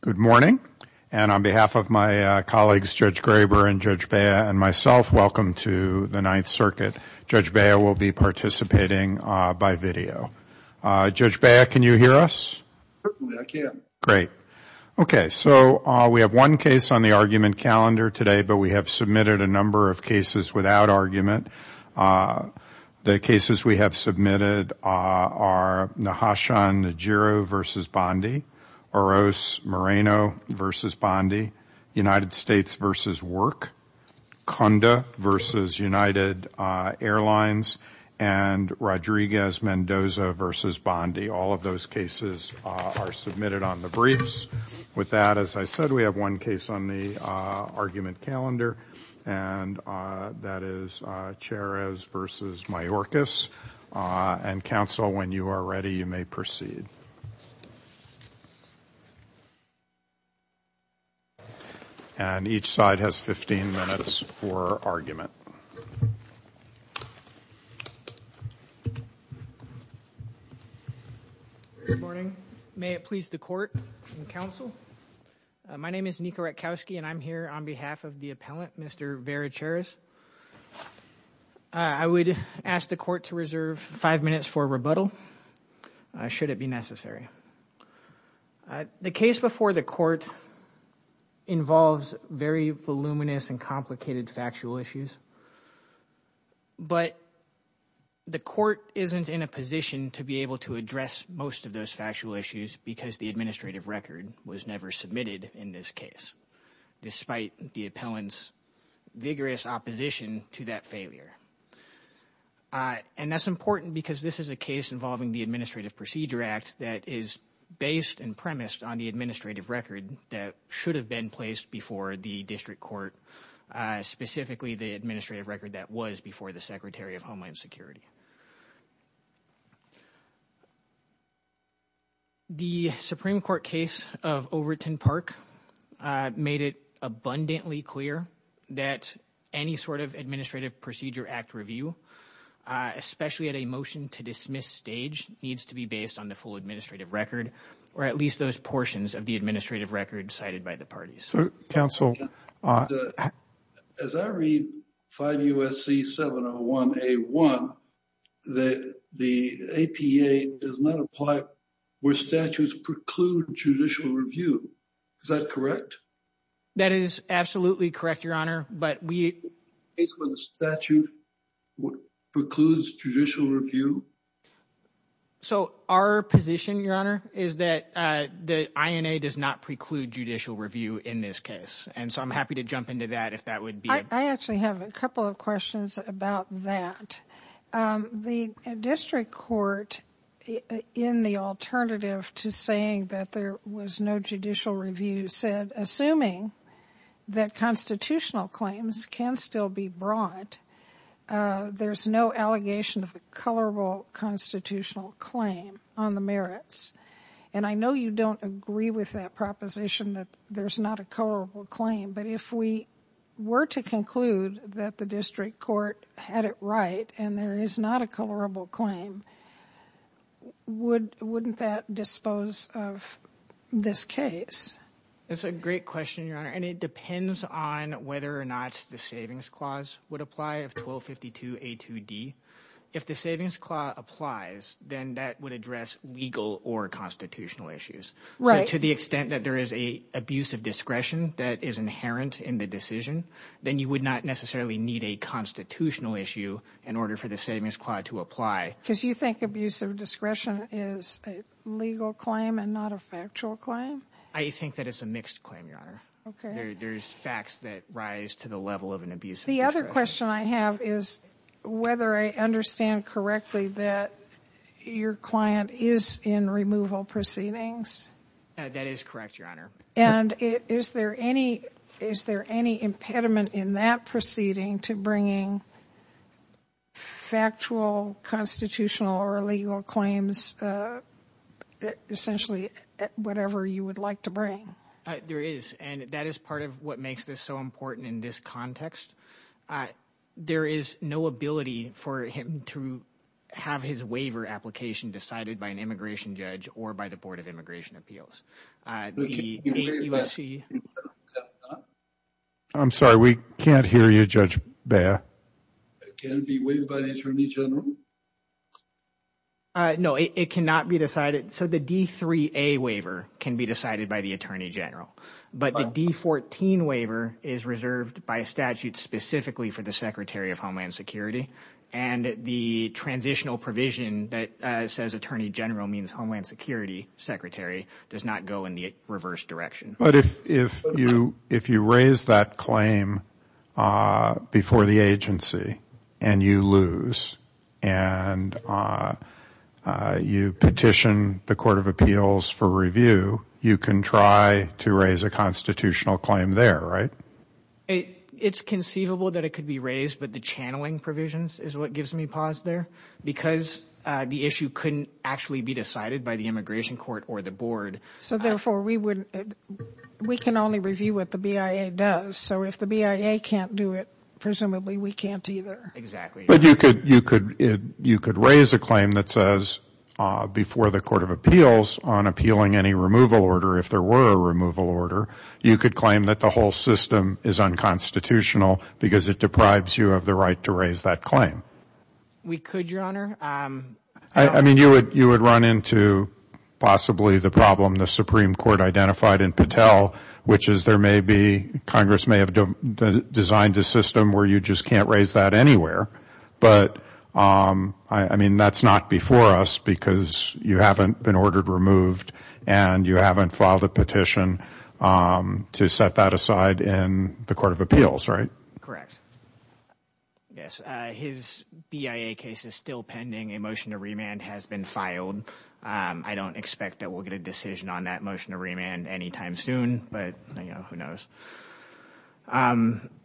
Good morning, and on behalf of my colleagues, Judge Graber and Judge Bea, and myself, welcome to the Ninth Circuit. Judge Bea will be participating by video. Judge Bea, can you hear us? Certainly, I can. Great. Okay, so we have one case on the argument calendar today, but we have submitted a number of cases without argument. The cases we have submitted are Nahashon Najiro v. Bondi, Oroz Moreno v. Bondi, United States v. Work, Cunda v. United Airlines, and Rodriguez Mendoza v. Bondi. All of those cases are submitted on the briefs. With that, as I said, we have one case on the argument calendar, and that is Chairez v. Mayorkas. And counsel, when you are ready, you may proceed. And each side has 15 minutes for argument. Good morning. May it please the court and counsel, my name is Niko Ratkowski, and I'm here on behalf of the appellant, Mr. Vera Chairez. I would ask the court to reserve five minutes for rebuttal, should it be necessary. The case before the court involves very voluminous and complicated factual issues, but the court isn't in a position to be able to address most of those factual issues because the administrative record was never submitted in this case, despite the appellant's vigorous opposition to that And that's important because this is a case involving the Administrative Procedure Act that is based and premised on the administrative record that should have been placed before the district court, specifically the administrative record that was before the Secretary of Homeland Security. The Supreme Court case of Overton Park made it abundantly clear that any sort of Administrative Procedure Act review, especially at a motion to dismiss stage, needs to be based on the full administrative record, or at least those portions of the administrative record cited by the parties. As I read 5 U.S.C. 701 A.1, the APA does not apply where statutes preclude judicial review. Is that correct? That is absolutely correct, Your Honor. But we Based on the statute precludes judicial review? So, our position, Your Honor, is that the INA does not preclude judicial review in this case. And so I'm happy to jump into that if that would be I actually have a couple of questions about that. The district court, in the alternative to saying that there was no judicial review said assuming that constitutional claims can still be brought, there's no allegation of a colorable constitutional claim on the merits. And I know you don't agree with that proposition that there's not a colorable claim, but if we were to conclude that the district court had it right and there is not a colorable claim, wouldn't that dispose of this case? That's a great question, Your Honor, and it depends on whether or not the savings clause would apply of 1252 A.2.D. If the savings clause applies, then that would address legal or constitutional issues. To the extent that there is an abuse of discretion that is inherent in the decision, then you would not necessarily need a constitutional issue in order for the savings clause to apply. Because you think abuse of discretion is a legal claim and not a factual claim? I think that it's a mixed claim, Your Honor. There's facts that rise to the level of an abuse of discretion. The other question I have is whether I understand correctly that your client is in removal proceedings? That is correct, Your Honor. And is there any impediment in that proceeding to bringing factual, constitutional, or legal claims, essentially whatever you would like to bring? There is, and that is part of what makes this so important in this context. There is no ability for him to have his waiver application decided by an immigration judge or by the Board of Immigration Appeals. The USC... I'm sorry, we can't hear you, Judge Baer. Can it be waived by the Attorney General? No, it cannot be decided. So the D-3A waiver can be decided by the Attorney General, but the D-14 waiver is reserved by statute specifically for the Secretary of Homeland Security. And the transitional provision that says Attorney General means Homeland Security Secretary does not go in the reverse direction. But if you raise that claim before the agency and you lose and you petition the Court of Appeals for review, you can try to raise a constitutional claim there, right? It's conceivable that it could be raised, but the channeling provisions is what gives me pause there because the issue couldn't actually be decided by the immigration court or the board. So therefore, we can only review what the BIA does. So if the BIA can't do it, presumably we can't either. Exactly. But you could raise a claim that says before the Court of Appeals on appealing any removal order, if there were a removal order, you could claim that the whole system is unconstitutional because it deprives you of the right to raise that claim. We could, Your Honor. I mean, you would run into possibly the problem the Supreme Court identified in Patel, which is there may be Congress may have designed a system where you just can't raise that anywhere. But I mean, that's not before us because you haven't been ordered removed and you haven't filed a petition to set that aside in the Court of Appeals, right? Correct. Yes. His BIA case is still pending. A motion to remand has been filed. I don't expect that we'll get a decision on that motion to remand anytime soon, but, you know, who knows?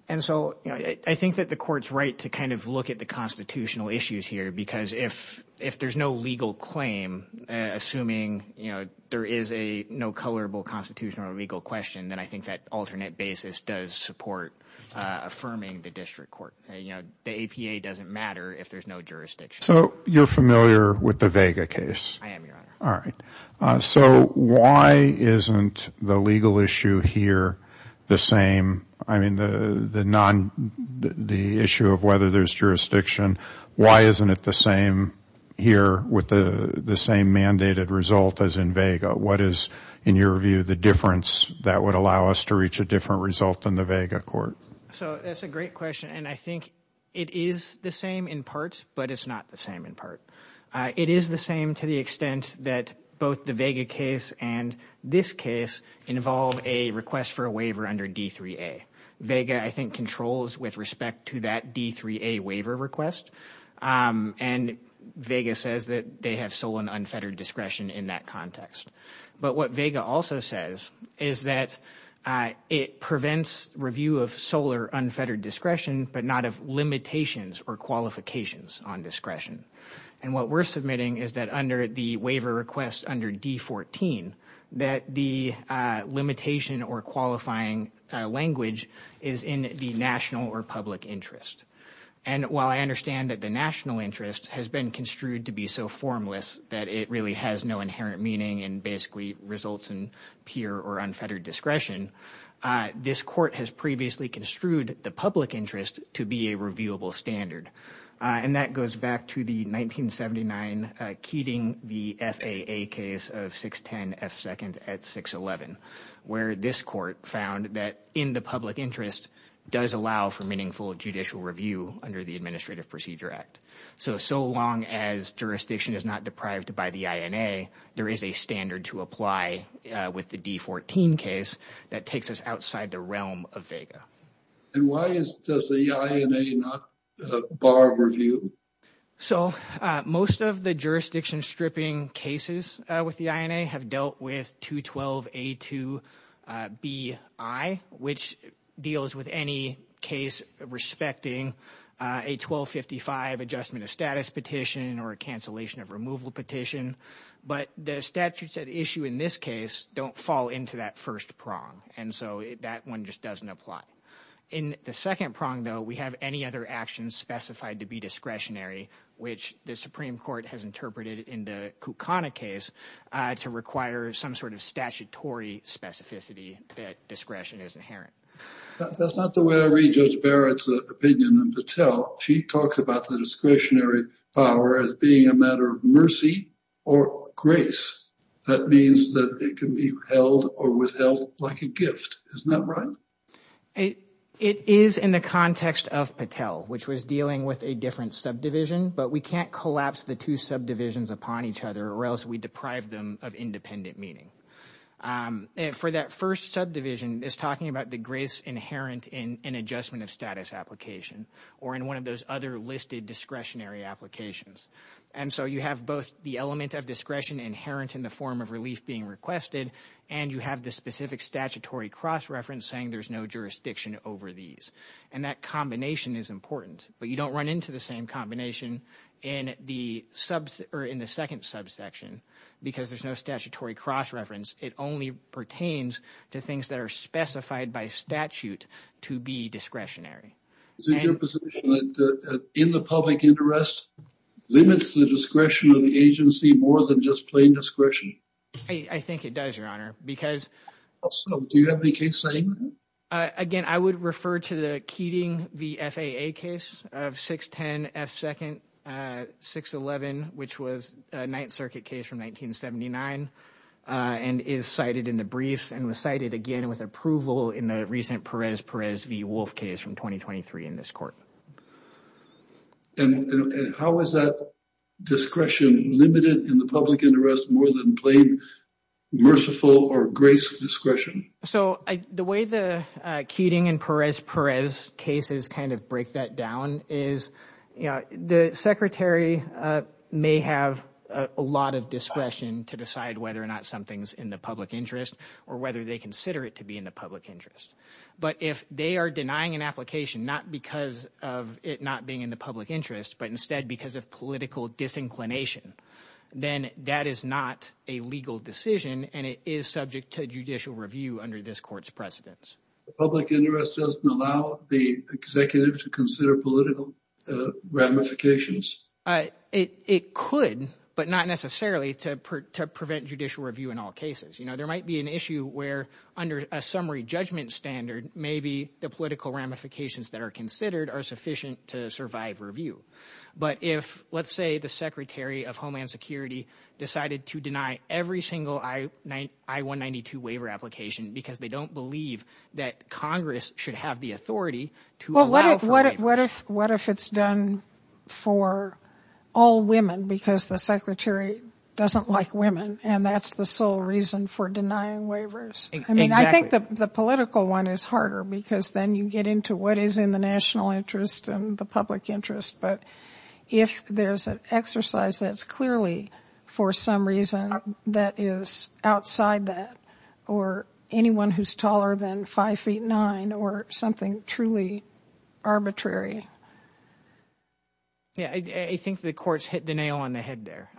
And so, you know, I think that the court's right to kind of look at the constitutional issues here because if there's no legal claim, assuming, you know, there is a no colorable constitutional or legal question, then I think that alternate basis does support affirming the district court. You know, the APA doesn't matter if there's no jurisdiction. So you're familiar with the Vega case? I am, Your Honor. All right. So why isn't the legal issue here the same? I mean, the issue of whether there's jurisdiction, why isn't it the same here with the same mandated result as in Vega? What is, in your view, the difference that would allow us to reach a different result in the Vega court? So that's a great question. And I think it is the same in part, but it's not the same in part. It is the same to the extent that both the Vega case and this case involve a request for a waiver under D3A. Vega, I think, controls with respect to that D3A waiver request. And Vega says that they have sole and unfettered discretion in that context. But what Vega also says is that it prevents review of sole or unfettered discretion, but not of limitations or qualifications on discretion. And what we're submitting is that under the waiver request under D14, that the limitation or qualifying language is in the national or public interest. And while I understand that the national interest has been construed to be so formless that it really has no inherent meaning and basically results in pure or unfettered discretion, this court has previously construed the public interest to be a revealable standard. And that goes back to the 1979 Keating v. FAA case of 610 F. Second at 611, where this court found that in the public interest does allow for meaningful judicial review under the Administrative Procedure Act. So, so long as jurisdiction is not deprived by the INA, there is a standard to apply with the D14 case that takes us outside the realm of Vega. And why does the INA not bar review? So, most of the jurisdiction stripping cases with the INA have dealt with 212A2BI, which deals with any case respecting a 1255 adjustment of status petition or a cancellation of removal petition. But the statutes at issue in this case don't fall into that first prong. And so that one just doesn't apply. In the second prong, though, we have any other actions specified to be discretionary, which the Supreme Court has interpreted in the Kukana case to require some sort of statutory specificity that discretion is inherent. That's not the way I read Judge Barrett's opinion in Patel. She talks about the discretionary power as being a matter of mercy or grace. That means that it can be held or withheld like a gift. Isn't that right? It is in the context of Patel, which was dealing with a different subdivision, but we can't collapse the two subdivisions upon each other or else we deprive them of independent meaning. And for that first subdivision is talking about the grace inherent in an adjustment of status application or in one of those other listed discretionary applications. And so you have both the element of discretion inherent in the form of relief being requested, and you have the specific statutory cross reference saying there's no jurisdiction over these. And that combination is important, but you don't run into the same combination in the second subsection because there's no statutory cross reference. It only pertains to things that are specified by statute to be discretionary. Is it your position that in the public interest limits the discretion of the agency more than just plain discretion? I think it does, Your Honor. Also, do you have any case statement? Again, I would refer to the Keating v. FAA case of 610 F. 2nd, 611, which was a Ninth Circuit case from 1979 and is cited in the briefs and was cited again with approval in the recent Perez-Perez v. Wolf case from 2023 in this court. And how is that discretion limited in the public interest more than plain merciful or grace discretion? So the way the Keating and Perez-Perez cases kind of break that down is, you know, the Secretary may have a lot of discretion to decide whether or not something's in the public interest or whether they consider it to be in the public interest. But if they are denying an application, not because of it not being in the public interest, but instead because of political disinclination, then that is not a legal decision and it is not subject to judicial review under this court's precedence. The public interest doesn't allow the executive to consider political ramifications? It could, but not necessarily to prevent judicial review in all cases. You know, there might be an issue where under a summary judgment standard, maybe the political ramifications that are considered are sufficient to survive review. But if, let's say, the Secretary of Homeland Security decided to deny every single I-192 waiver application because they don't believe that Congress should have the authority to allow for waivers. What if it's done for all women because the Secretary doesn't like women and that's the sole reason for denying waivers? I mean, I think the political one is harder because then you get into what is in the public interest. But if there's an exercise that's clearly for some reason that is outside that or anyone who's taller than five feet nine or something truly arbitrary. Yeah, I think the courts hit the nail on the head there.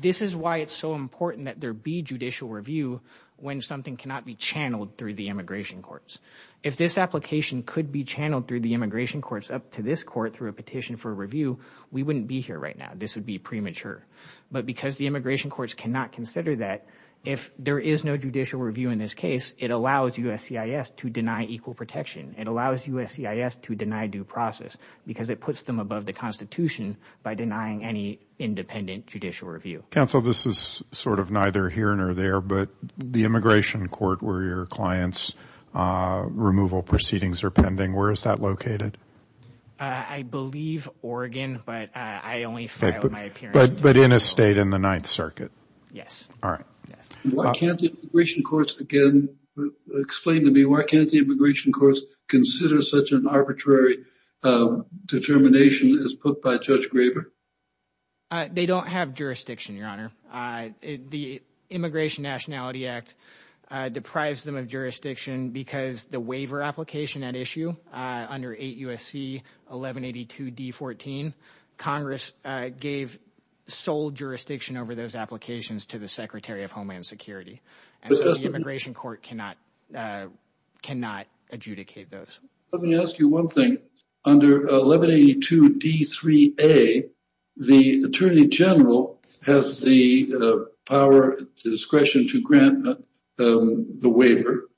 This is why it's so important that there be judicial review when something cannot be channeled through the immigration courts. If this application could be channeled through the immigration courts up to this court through a petition for review, we wouldn't be here right now. This would be premature. But because the immigration courts cannot consider that, if there is no judicial review in this case, it allows USCIS to deny equal protection. It allows USCIS to deny due process because it puts them above the Constitution by denying any independent judicial review. Counsel, this is sort of neither here nor there, but the immigration court where your compliance removal proceedings are pending, where is that located? I believe Oregon, but I only filed my appearance. But in a state in the Ninth Circuit? Yes. All right. Why can't the immigration courts, again, explain to me why can't the immigration courts consider such an arbitrary determination as put by Judge Graber? They don't have jurisdiction, Your Honor. The Immigration Nationality Act deprives them of jurisdiction because the waiver application at issue under 8 U.S.C. 1182 D-14, Congress gave sole jurisdiction over those applications to the Secretary of Homeland Security. And so the immigration court cannot adjudicate those. Let me ask you one thing. Under 1182 D-3A, the Attorney General has the power, discretion to grant the waiver.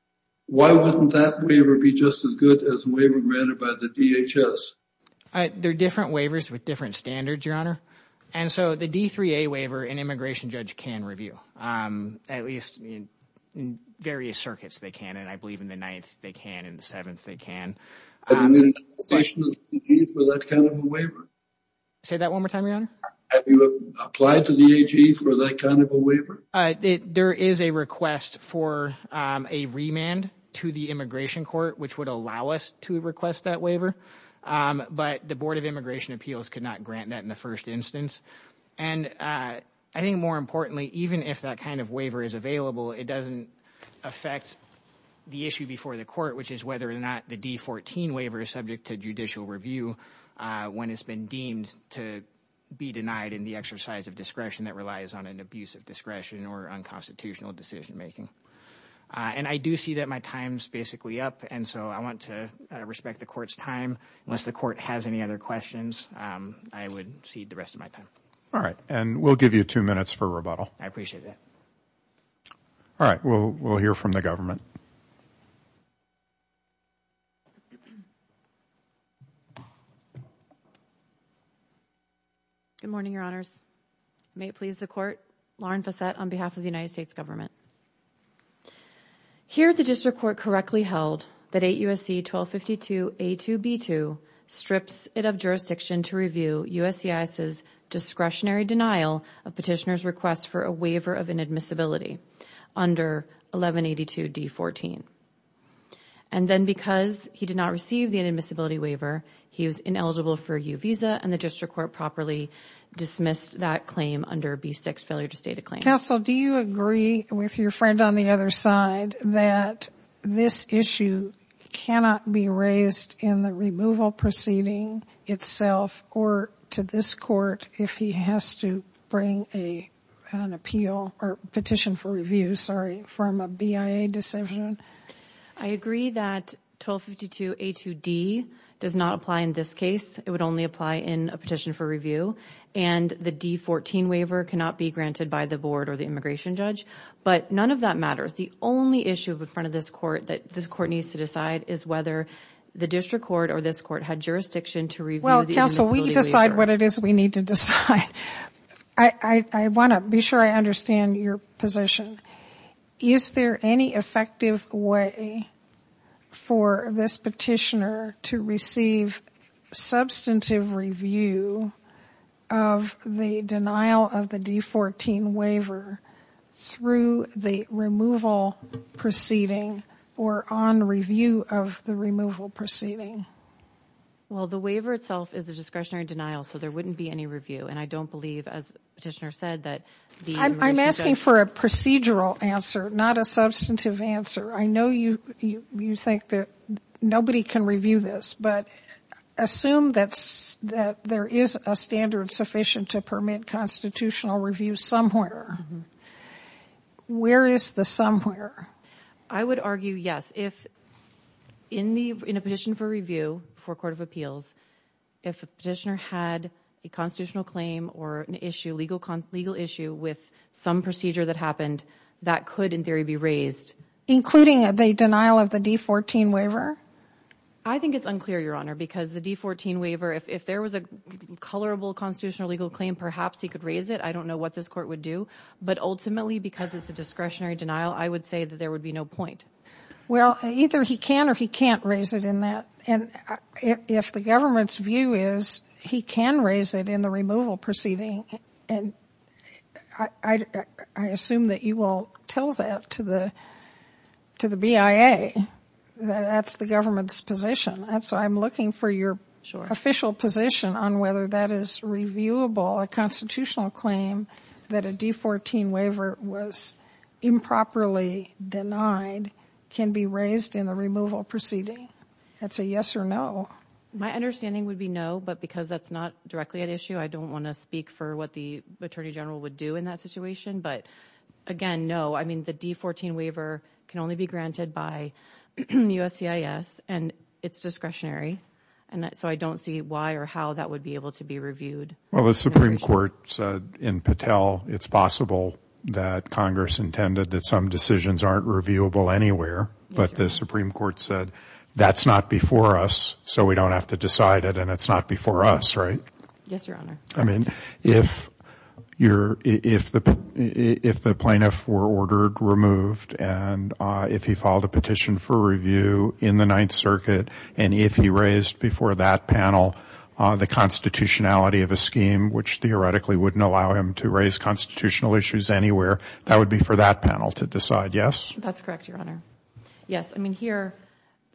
Why wouldn't that waiver be just as good as a waiver granted by the DHS? They're different waivers with different standards, Your Honor. And so the D-3A waiver, an immigration judge can review, at least in various circuits they can, and I believe in the Ninth they can, in the Seventh they can. Have you made an application to the AG for that kind of a waiver? Say that one more time, Your Honor? Have you applied to the AG for that kind of a waiver? There is a request for a remand to the immigration court, which would allow us to request that But the Board of Immigration Appeals could not grant that in the first instance. And I think more importantly, even if that kind of waiver is available, it doesn't affect the issue before the court, which is whether or not the D-14 waiver is subject to judicial review when it's been deemed to be denied in the exercise of discretion that relies on an abuse of discretion or unconstitutional decision making. And I do see that my time's basically up. And so I want to respect the court's time. Unless the court has any other questions, I would cede the rest of my time. All right. And we'll give you two minutes for rebuttal. I appreciate that. All right. We'll hear from the government. Good morning, Your Honors. May it please the Court. Lauren Fassette on behalf of the United States Government. Here the district court correctly held that 8 U.S.C. 1252 A2B2 strips it of jurisdiction to review USCIS's discretionary denial of petitioner's request for a waiver of inadmissibility under 1182 D-14. And then because he did not receive the inadmissibility waiver, he was ineligible for a U visa and the district court properly dismissed that claim under B-6 failure to state a claim. Counsel, do you agree with your friend on the other side that this issue cannot be raised in the removal proceeding itself or to this court if he has to bring an appeal or petition for review, sorry, from a BIA decision? I agree that 1252 A2D does not apply in this case. It would only apply in a petition for review. And the D-14 waiver cannot be granted by the board or the immigration judge. But none of that matters. The only issue in front of this court that this court needs to decide is whether the district court or this court had jurisdiction to review the inadmissibility waiver. Well, counsel, we decide what it is we need to decide. I want to be sure I understand your position. Is there any effective way for this petitioner to receive substantive review of the denial of the D-14 waiver through the removal proceeding or on review of the removal proceeding? Well, the waiver itself is a discretionary denial, so there wouldn't be any review. And I don't believe, as the petitioner said, that the immigration judge I'm asking for a procedural answer, not a substantive answer. I know you think that nobody can review this, but assume that there is a standard sufficient to permit constitutional review somewhere. Where is the somewhere? I would argue, yes. If in a petition for review for a court of appeals, if a petitioner had a constitutional claim or an issue, legal issue with some procedure that happened, that could, in theory, be raised. Including the denial of the D-14 waiver? I think it's unclear, Your Honor, because the D-14 waiver, if there was a colorable constitutional legal claim, perhaps he could raise it. I don't know what this court would do. But ultimately, because it's a discretionary denial, I would say that there would be no point. Well, either he can or he can't raise it in that. And if the government's view is he can raise it in the removal proceeding. And I assume that you will tell that to the BIA, that that's the government's position. And so I'm looking for your official position on whether that is reviewable, a constitutional claim that a D-14 waiver was improperly denied can be raised in the removal proceeding. That's a yes or no. My understanding would be no, but because that's not directly an issue, I don't want to speak for what the Attorney General would do in that situation. But again, no. I mean, the D-14 waiver can only be granted by USCIS and it's discretionary. And so I don't see why or how that would be able to be reviewed. Well, the Supreme Court said in Patel, it's possible that Congress intended that some decisions aren't reviewable anywhere. But the Supreme Court said that's not before us, so we don't have to decide it. And it's not before us, right? Yes, Your Honor. I mean, if the plaintiff were ordered removed and if he filed a petition for review in the Ninth Circuit, and if he raised before that panel the constitutionality of a scheme, which theoretically wouldn't allow him to raise constitutional issues anywhere, that would be for that panel to decide, yes? That's correct, Your Honor. Yes. I mean, here,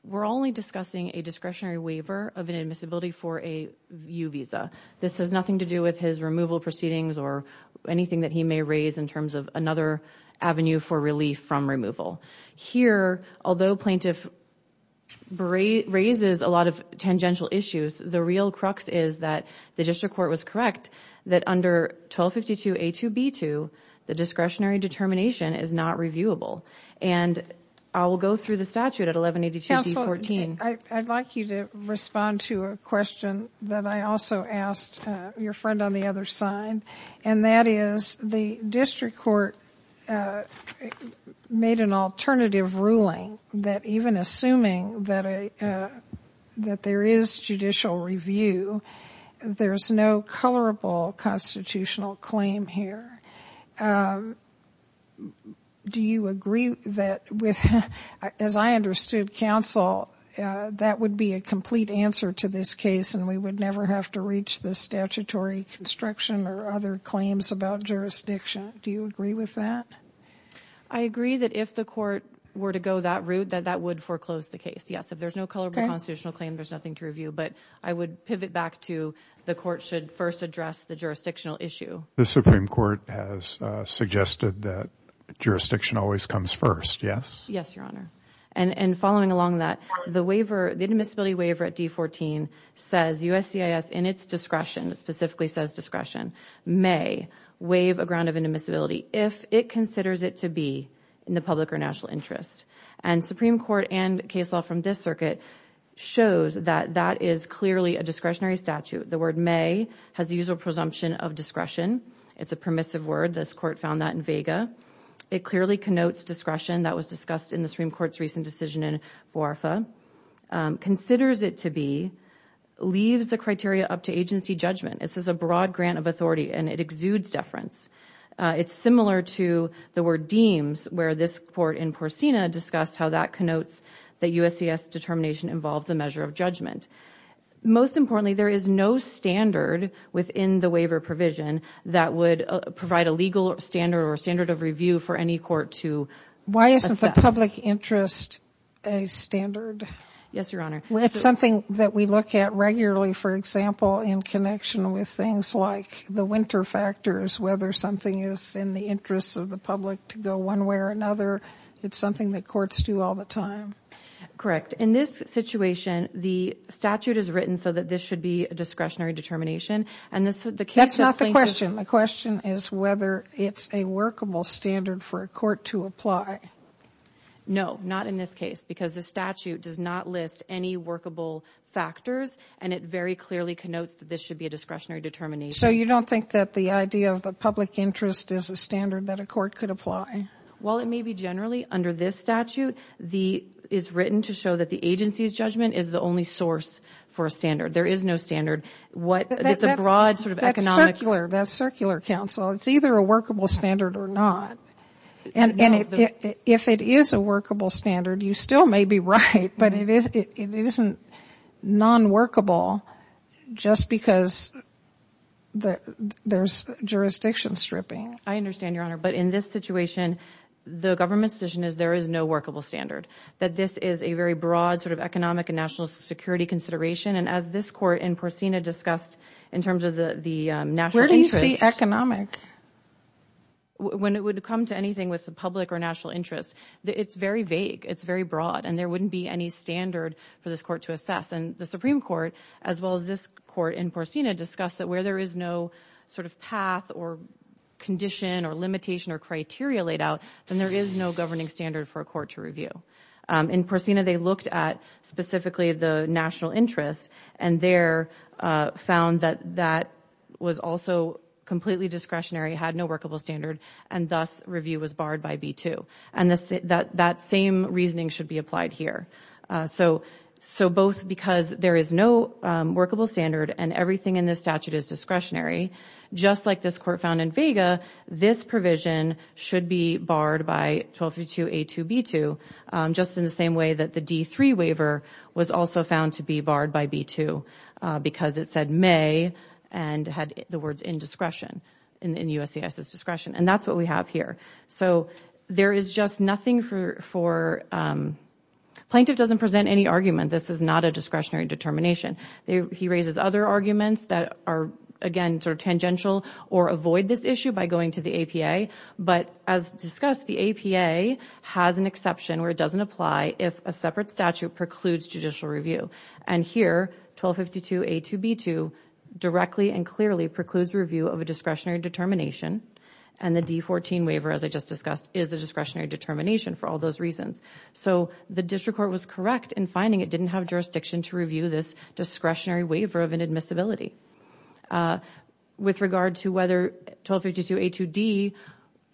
we're only discussing a discretionary waiver of an admissibility for a U visa. This has nothing to do with his removal proceedings or anything that he may raise in terms of another avenue for relief from removal. Here, although plaintiff raises a lot of tangential issues, the real crux is that the district court was correct that under 1252A2B2, the discretionary determination is not reviewable. And I will go through the statute at 1182B14. I'd like you to respond to a question that I also asked your friend on the other side, and that is the district court made an alternative ruling that even assuming that there is judicial review, there's no colorable constitutional claim here. Do you agree that, as I understood counsel, that would be a complete answer to this case and we would never have to reach the statutory construction or other claims about jurisdiction? Do you agree with that? I agree that if the court were to go that route, that that would foreclose the case, yes. If there's no colorable constitutional claim, there's nothing to review. But I would pivot back to the court should first address the jurisdictional issue. The Supreme Court has suggested that jurisdiction always comes first, yes? Yes, Your Honor. And following along that, the waiver, the admissibility waiver at D14 says USCIS in its discretion, specifically says discretion, may waive a ground of admissibility if it considers it to be in the public or national interest. And Supreme Court and case law from this circuit shows that that is clearly a discretionary statute. The word may has the usual presumption of discretion. It's a permissive word. This court found that in vega. It clearly connotes discretion that was discussed in the Supreme Court's recent decision in Boarfa, considers it to be, leaves the criteria up to agency judgment. This is a broad grant of authority and it exudes deference. It's similar to the word deems where this court in Porcina discussed how that connotes that USCIS determination involves a measure of judgment. Most importantly, there is no standard within the waiver provision that would provide a legal standard or standard of review for any court to assess. Why isn't the public interest a standard? Yes, Your Honor. It's something that we look at regularly, for example, in connection with things like the winter factors, whether something is in the interests of the public to go one way or another. It's something that courts do all the time. Correct. In this situation, the statute is written so that this should be a discretionary determination. And that's not the question. The question is whether it's a workable standard for a court to apply. No, not in this case, because the statute does not list any workable factors and it very clearly connotes that this should be a discretionary determination. So you don't think that the idea of the public interest is a standard that a court could apply? While it may be generally, under this statute, it is written to show that the agency's judgment is the only source for a standard. There is no standard. It's a broad sort of economic— That's circular, counsel. It's either a workable standard or not. And if it is a workable standard, you still may be right, but it isn't non-workable just because there's jurisdiction stripping. I understand, Your Honor. But in this situation, the government's position is there is no workable standard, that this is a very broad sort of economic and national security consideration. And as this court in Porcina discussed in terms of the national interest— Where do you see economic? When it would come to anything with the public or national interest, it's very vague. It's very broad. And there wouldn't be any standard for this court to assess. And the Supreme Court, as well as this court in Porcina, discussed that where there is sort of path or condition or limitation or criteria laid out, then there is no governing standard for a court to review. In Porcina, they looked at specifically the national interest, and there found that that was also completely discretionary, had no workable standard, and thus review was barred by B-2. And that same reasoning should be applied here. So both because there is no workable standard and everything in this statute is discretionary, just like this court found in Vega, this provision should be barred by 1252A2B2, just in the same way that the D-3 waiver was also found to be barred by B-2 because it said may and had the words indiscretion in USCIS' discretion. And that's what we have here. So there is just nothing for plaintiff doesn't present any argument. This is not a discretionary determination. He raises other arguments that are, again, sort of tangential or avoid this issue by going to the APA. But as discussed, the APA has an exception where it doesn't apply if a separate statute precludes judicial review. And here, 1252A2B2 directly and clearly precludes review of a discretionary determination. And the D-14 waiver, as I just discussed, is a discretionary determination for all those reasons. So the district court was correct in finding it didn't have jurisdiction to review this discretionary waiver of inadmissibility. With regard to whether 1252A2D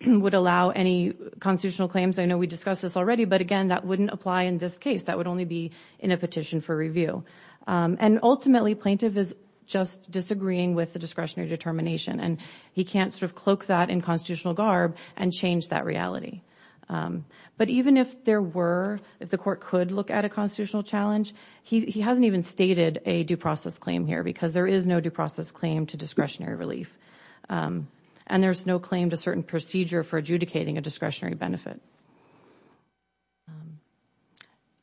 would allow any constitutional claims, I know we discussed this already, but again, that wouldn't apply in this case. That would only be in a petition for review. And ultimately, plaintiff is just disagreeing with the discretionary determination. And he can't sort of cloak that in constitutional garb and change that reality. But even if there were, if the court could look at a constitutional challenge, he hasn't even stated a due process claim here because there is no due process claim to discretionary relief. And there's no claim to certain procedure for adjudicating a discretionary benefit.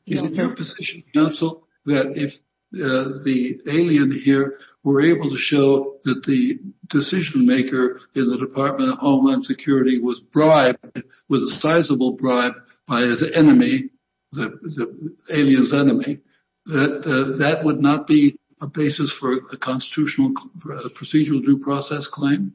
Is there a position, counsel, that if the alien here were able to show that the decision maker in the Department of Homeland Security was bribed, was a sizable bribe by his enemy, the alien's enemy, that that would not be a basis for a constitutional procedural due process claim?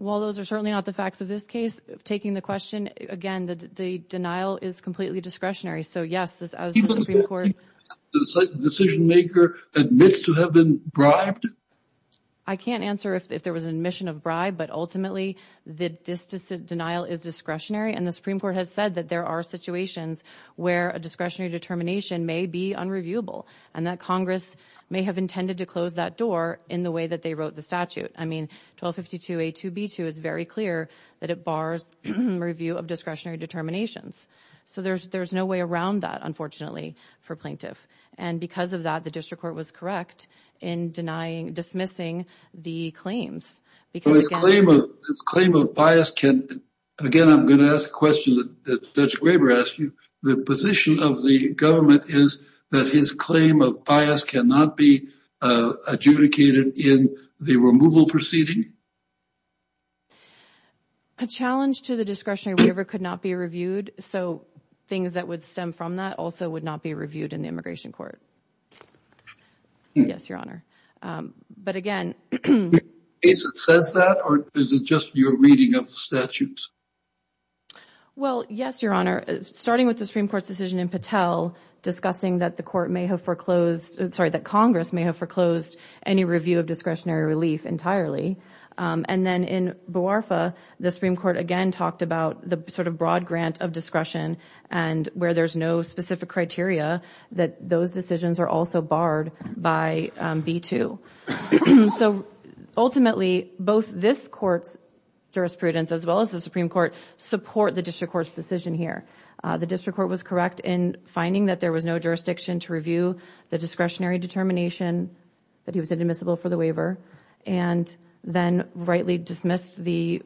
Well, those are certainly not the facts of this case. Taking the question again, the denial is completely discretionary. So, yes, the Supreme Court. Decision maker admits to have been bribed. I can't answer if there was an admission of bribe, but ultimately, this denial is discretionary. And the Supreme Court has said that there are situations where a discretionary determination may be unreviewable and that Congress may have intended to close that door in the way that they wrote the statute. I mean, 1252A2B2 is very clear that it bars review of discretionary determinations. So there's no way around that, unfortunately, for plaintiff. And because of that, the district court was correct in denying, dismissing the claims. Because his claim of bias can, again, I'm going to ask a question that Judge Graber asked you. The position of the government is that his claim of bias cannot be adjudicated in the removal proceeding? A challenge to the discretionary waiver could not be reviewed. So things that would stem from that also would not be reviewed in the immigration court. Yes, Your Honor. But again, is it says that or is it just your reading of the statutes? Well, yes, Your Honor. Starting with the Supreme Court's decision in Patel discussing that the court may have foreclosed, sorry, that Congress may have foreclosed any review of discretionary relief entirely. And then in Buarfa, the Supreme Court again talked about the sort of broad grant of discretion and where there's no specific criteria, that those decisions are also barred by B2. So ultimately, both this court's jurisprudence as well as the Supreme Court support the district court's decision here. The district court was correct in finding that there was no jurisdiction to review the discretionary determination that he was inadmissible for the waiver and then rightly dismissed the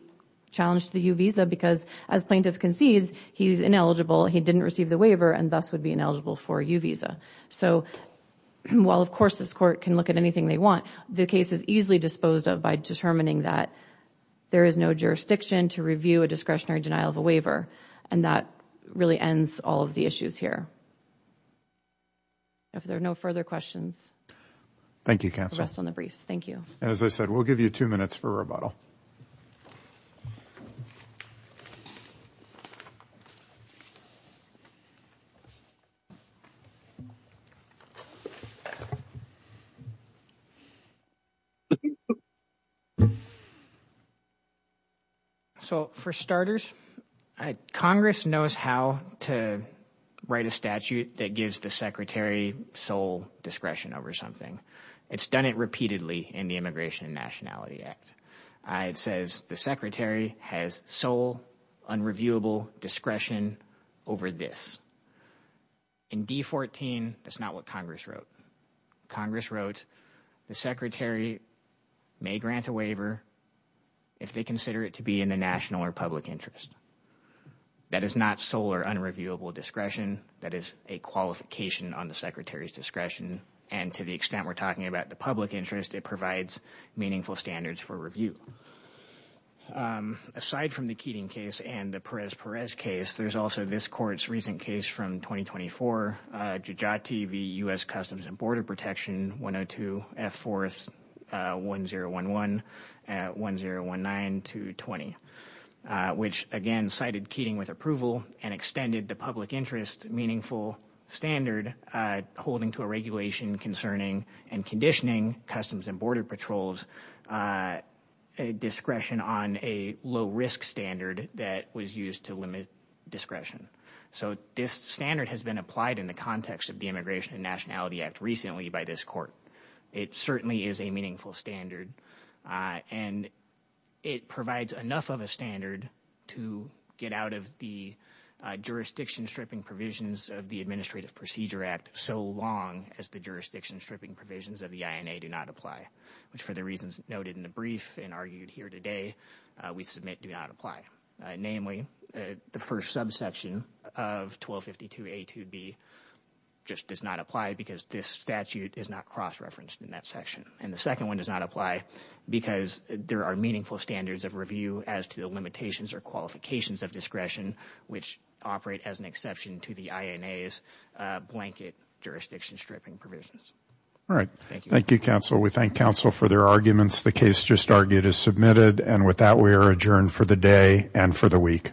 challenge to the U visa because as plaintiff concedes, he's ineligible. He didn't receive the waiver and thus would be ineligible for a U visa. So while, of course, this court can look at anything they want, the case is easily disposed of by determining that there is no jurisdiction to review a discretionary denial of a waiver and that really ends all of the issues here. If there are no further questions. Thank you, counsel. Rest on the briefs. Thank you. And as I said, we'll give you two minutes for rebuttal. So for starters, Congress knows how to write a statute that gives the secretary sole discretion over something. It's done it repeatedly in the Immigration and Nationality Act. It says the secretary has sole unreviewable discretion over this. In D14, that's not what Congress wrote. Congress wrote the secretary may grant a waiver if they consider it to be in the national or public interest. That is not sole or unreviewable discretion. That is a qualification on the secretary's discretion. And to the extent we're talking about the public interest, it provides meaningful standards for review. Aside from the Keating case and the Perez-Perez case, there's also this court's recent case from 2024, Jujati v. U.S. Customs and Border Protection, 102, F-4, 1011, 1019-20, which, again, cited Keating with approval and extended the public interest meaningful standard holding to a regulation concerning and conditioning Customs and Border Patrol's discretion on a low-risk standard that was used to limit discretion. So this standard has been applied in the context of the Immigration and Nationality Act recently by this court. It certainly is a meaningful standard, and it provides enough of a standard to get out of the jurisdiction-stripping provisions of the Administrative Procedure Act so long as the jurisdiction-stripping provisions of the INA do not apply, which, for the reasons noted in the brief and argued here today, we submit do not apply. Namely, the first subsection of 1252A2B just does not apply because this statute is not cross-referenced in that section. And the second one does not apply because there are meaningful standards of review as to the limitations or qualifications of discretion, which operate as an exception to the INA's blanket jurisdiction-stripping provisions. All right. Thank you, counsel. We thank counsel for their arguments. The case just argued is submitted. And with that, we are adjourned for the day and for the week.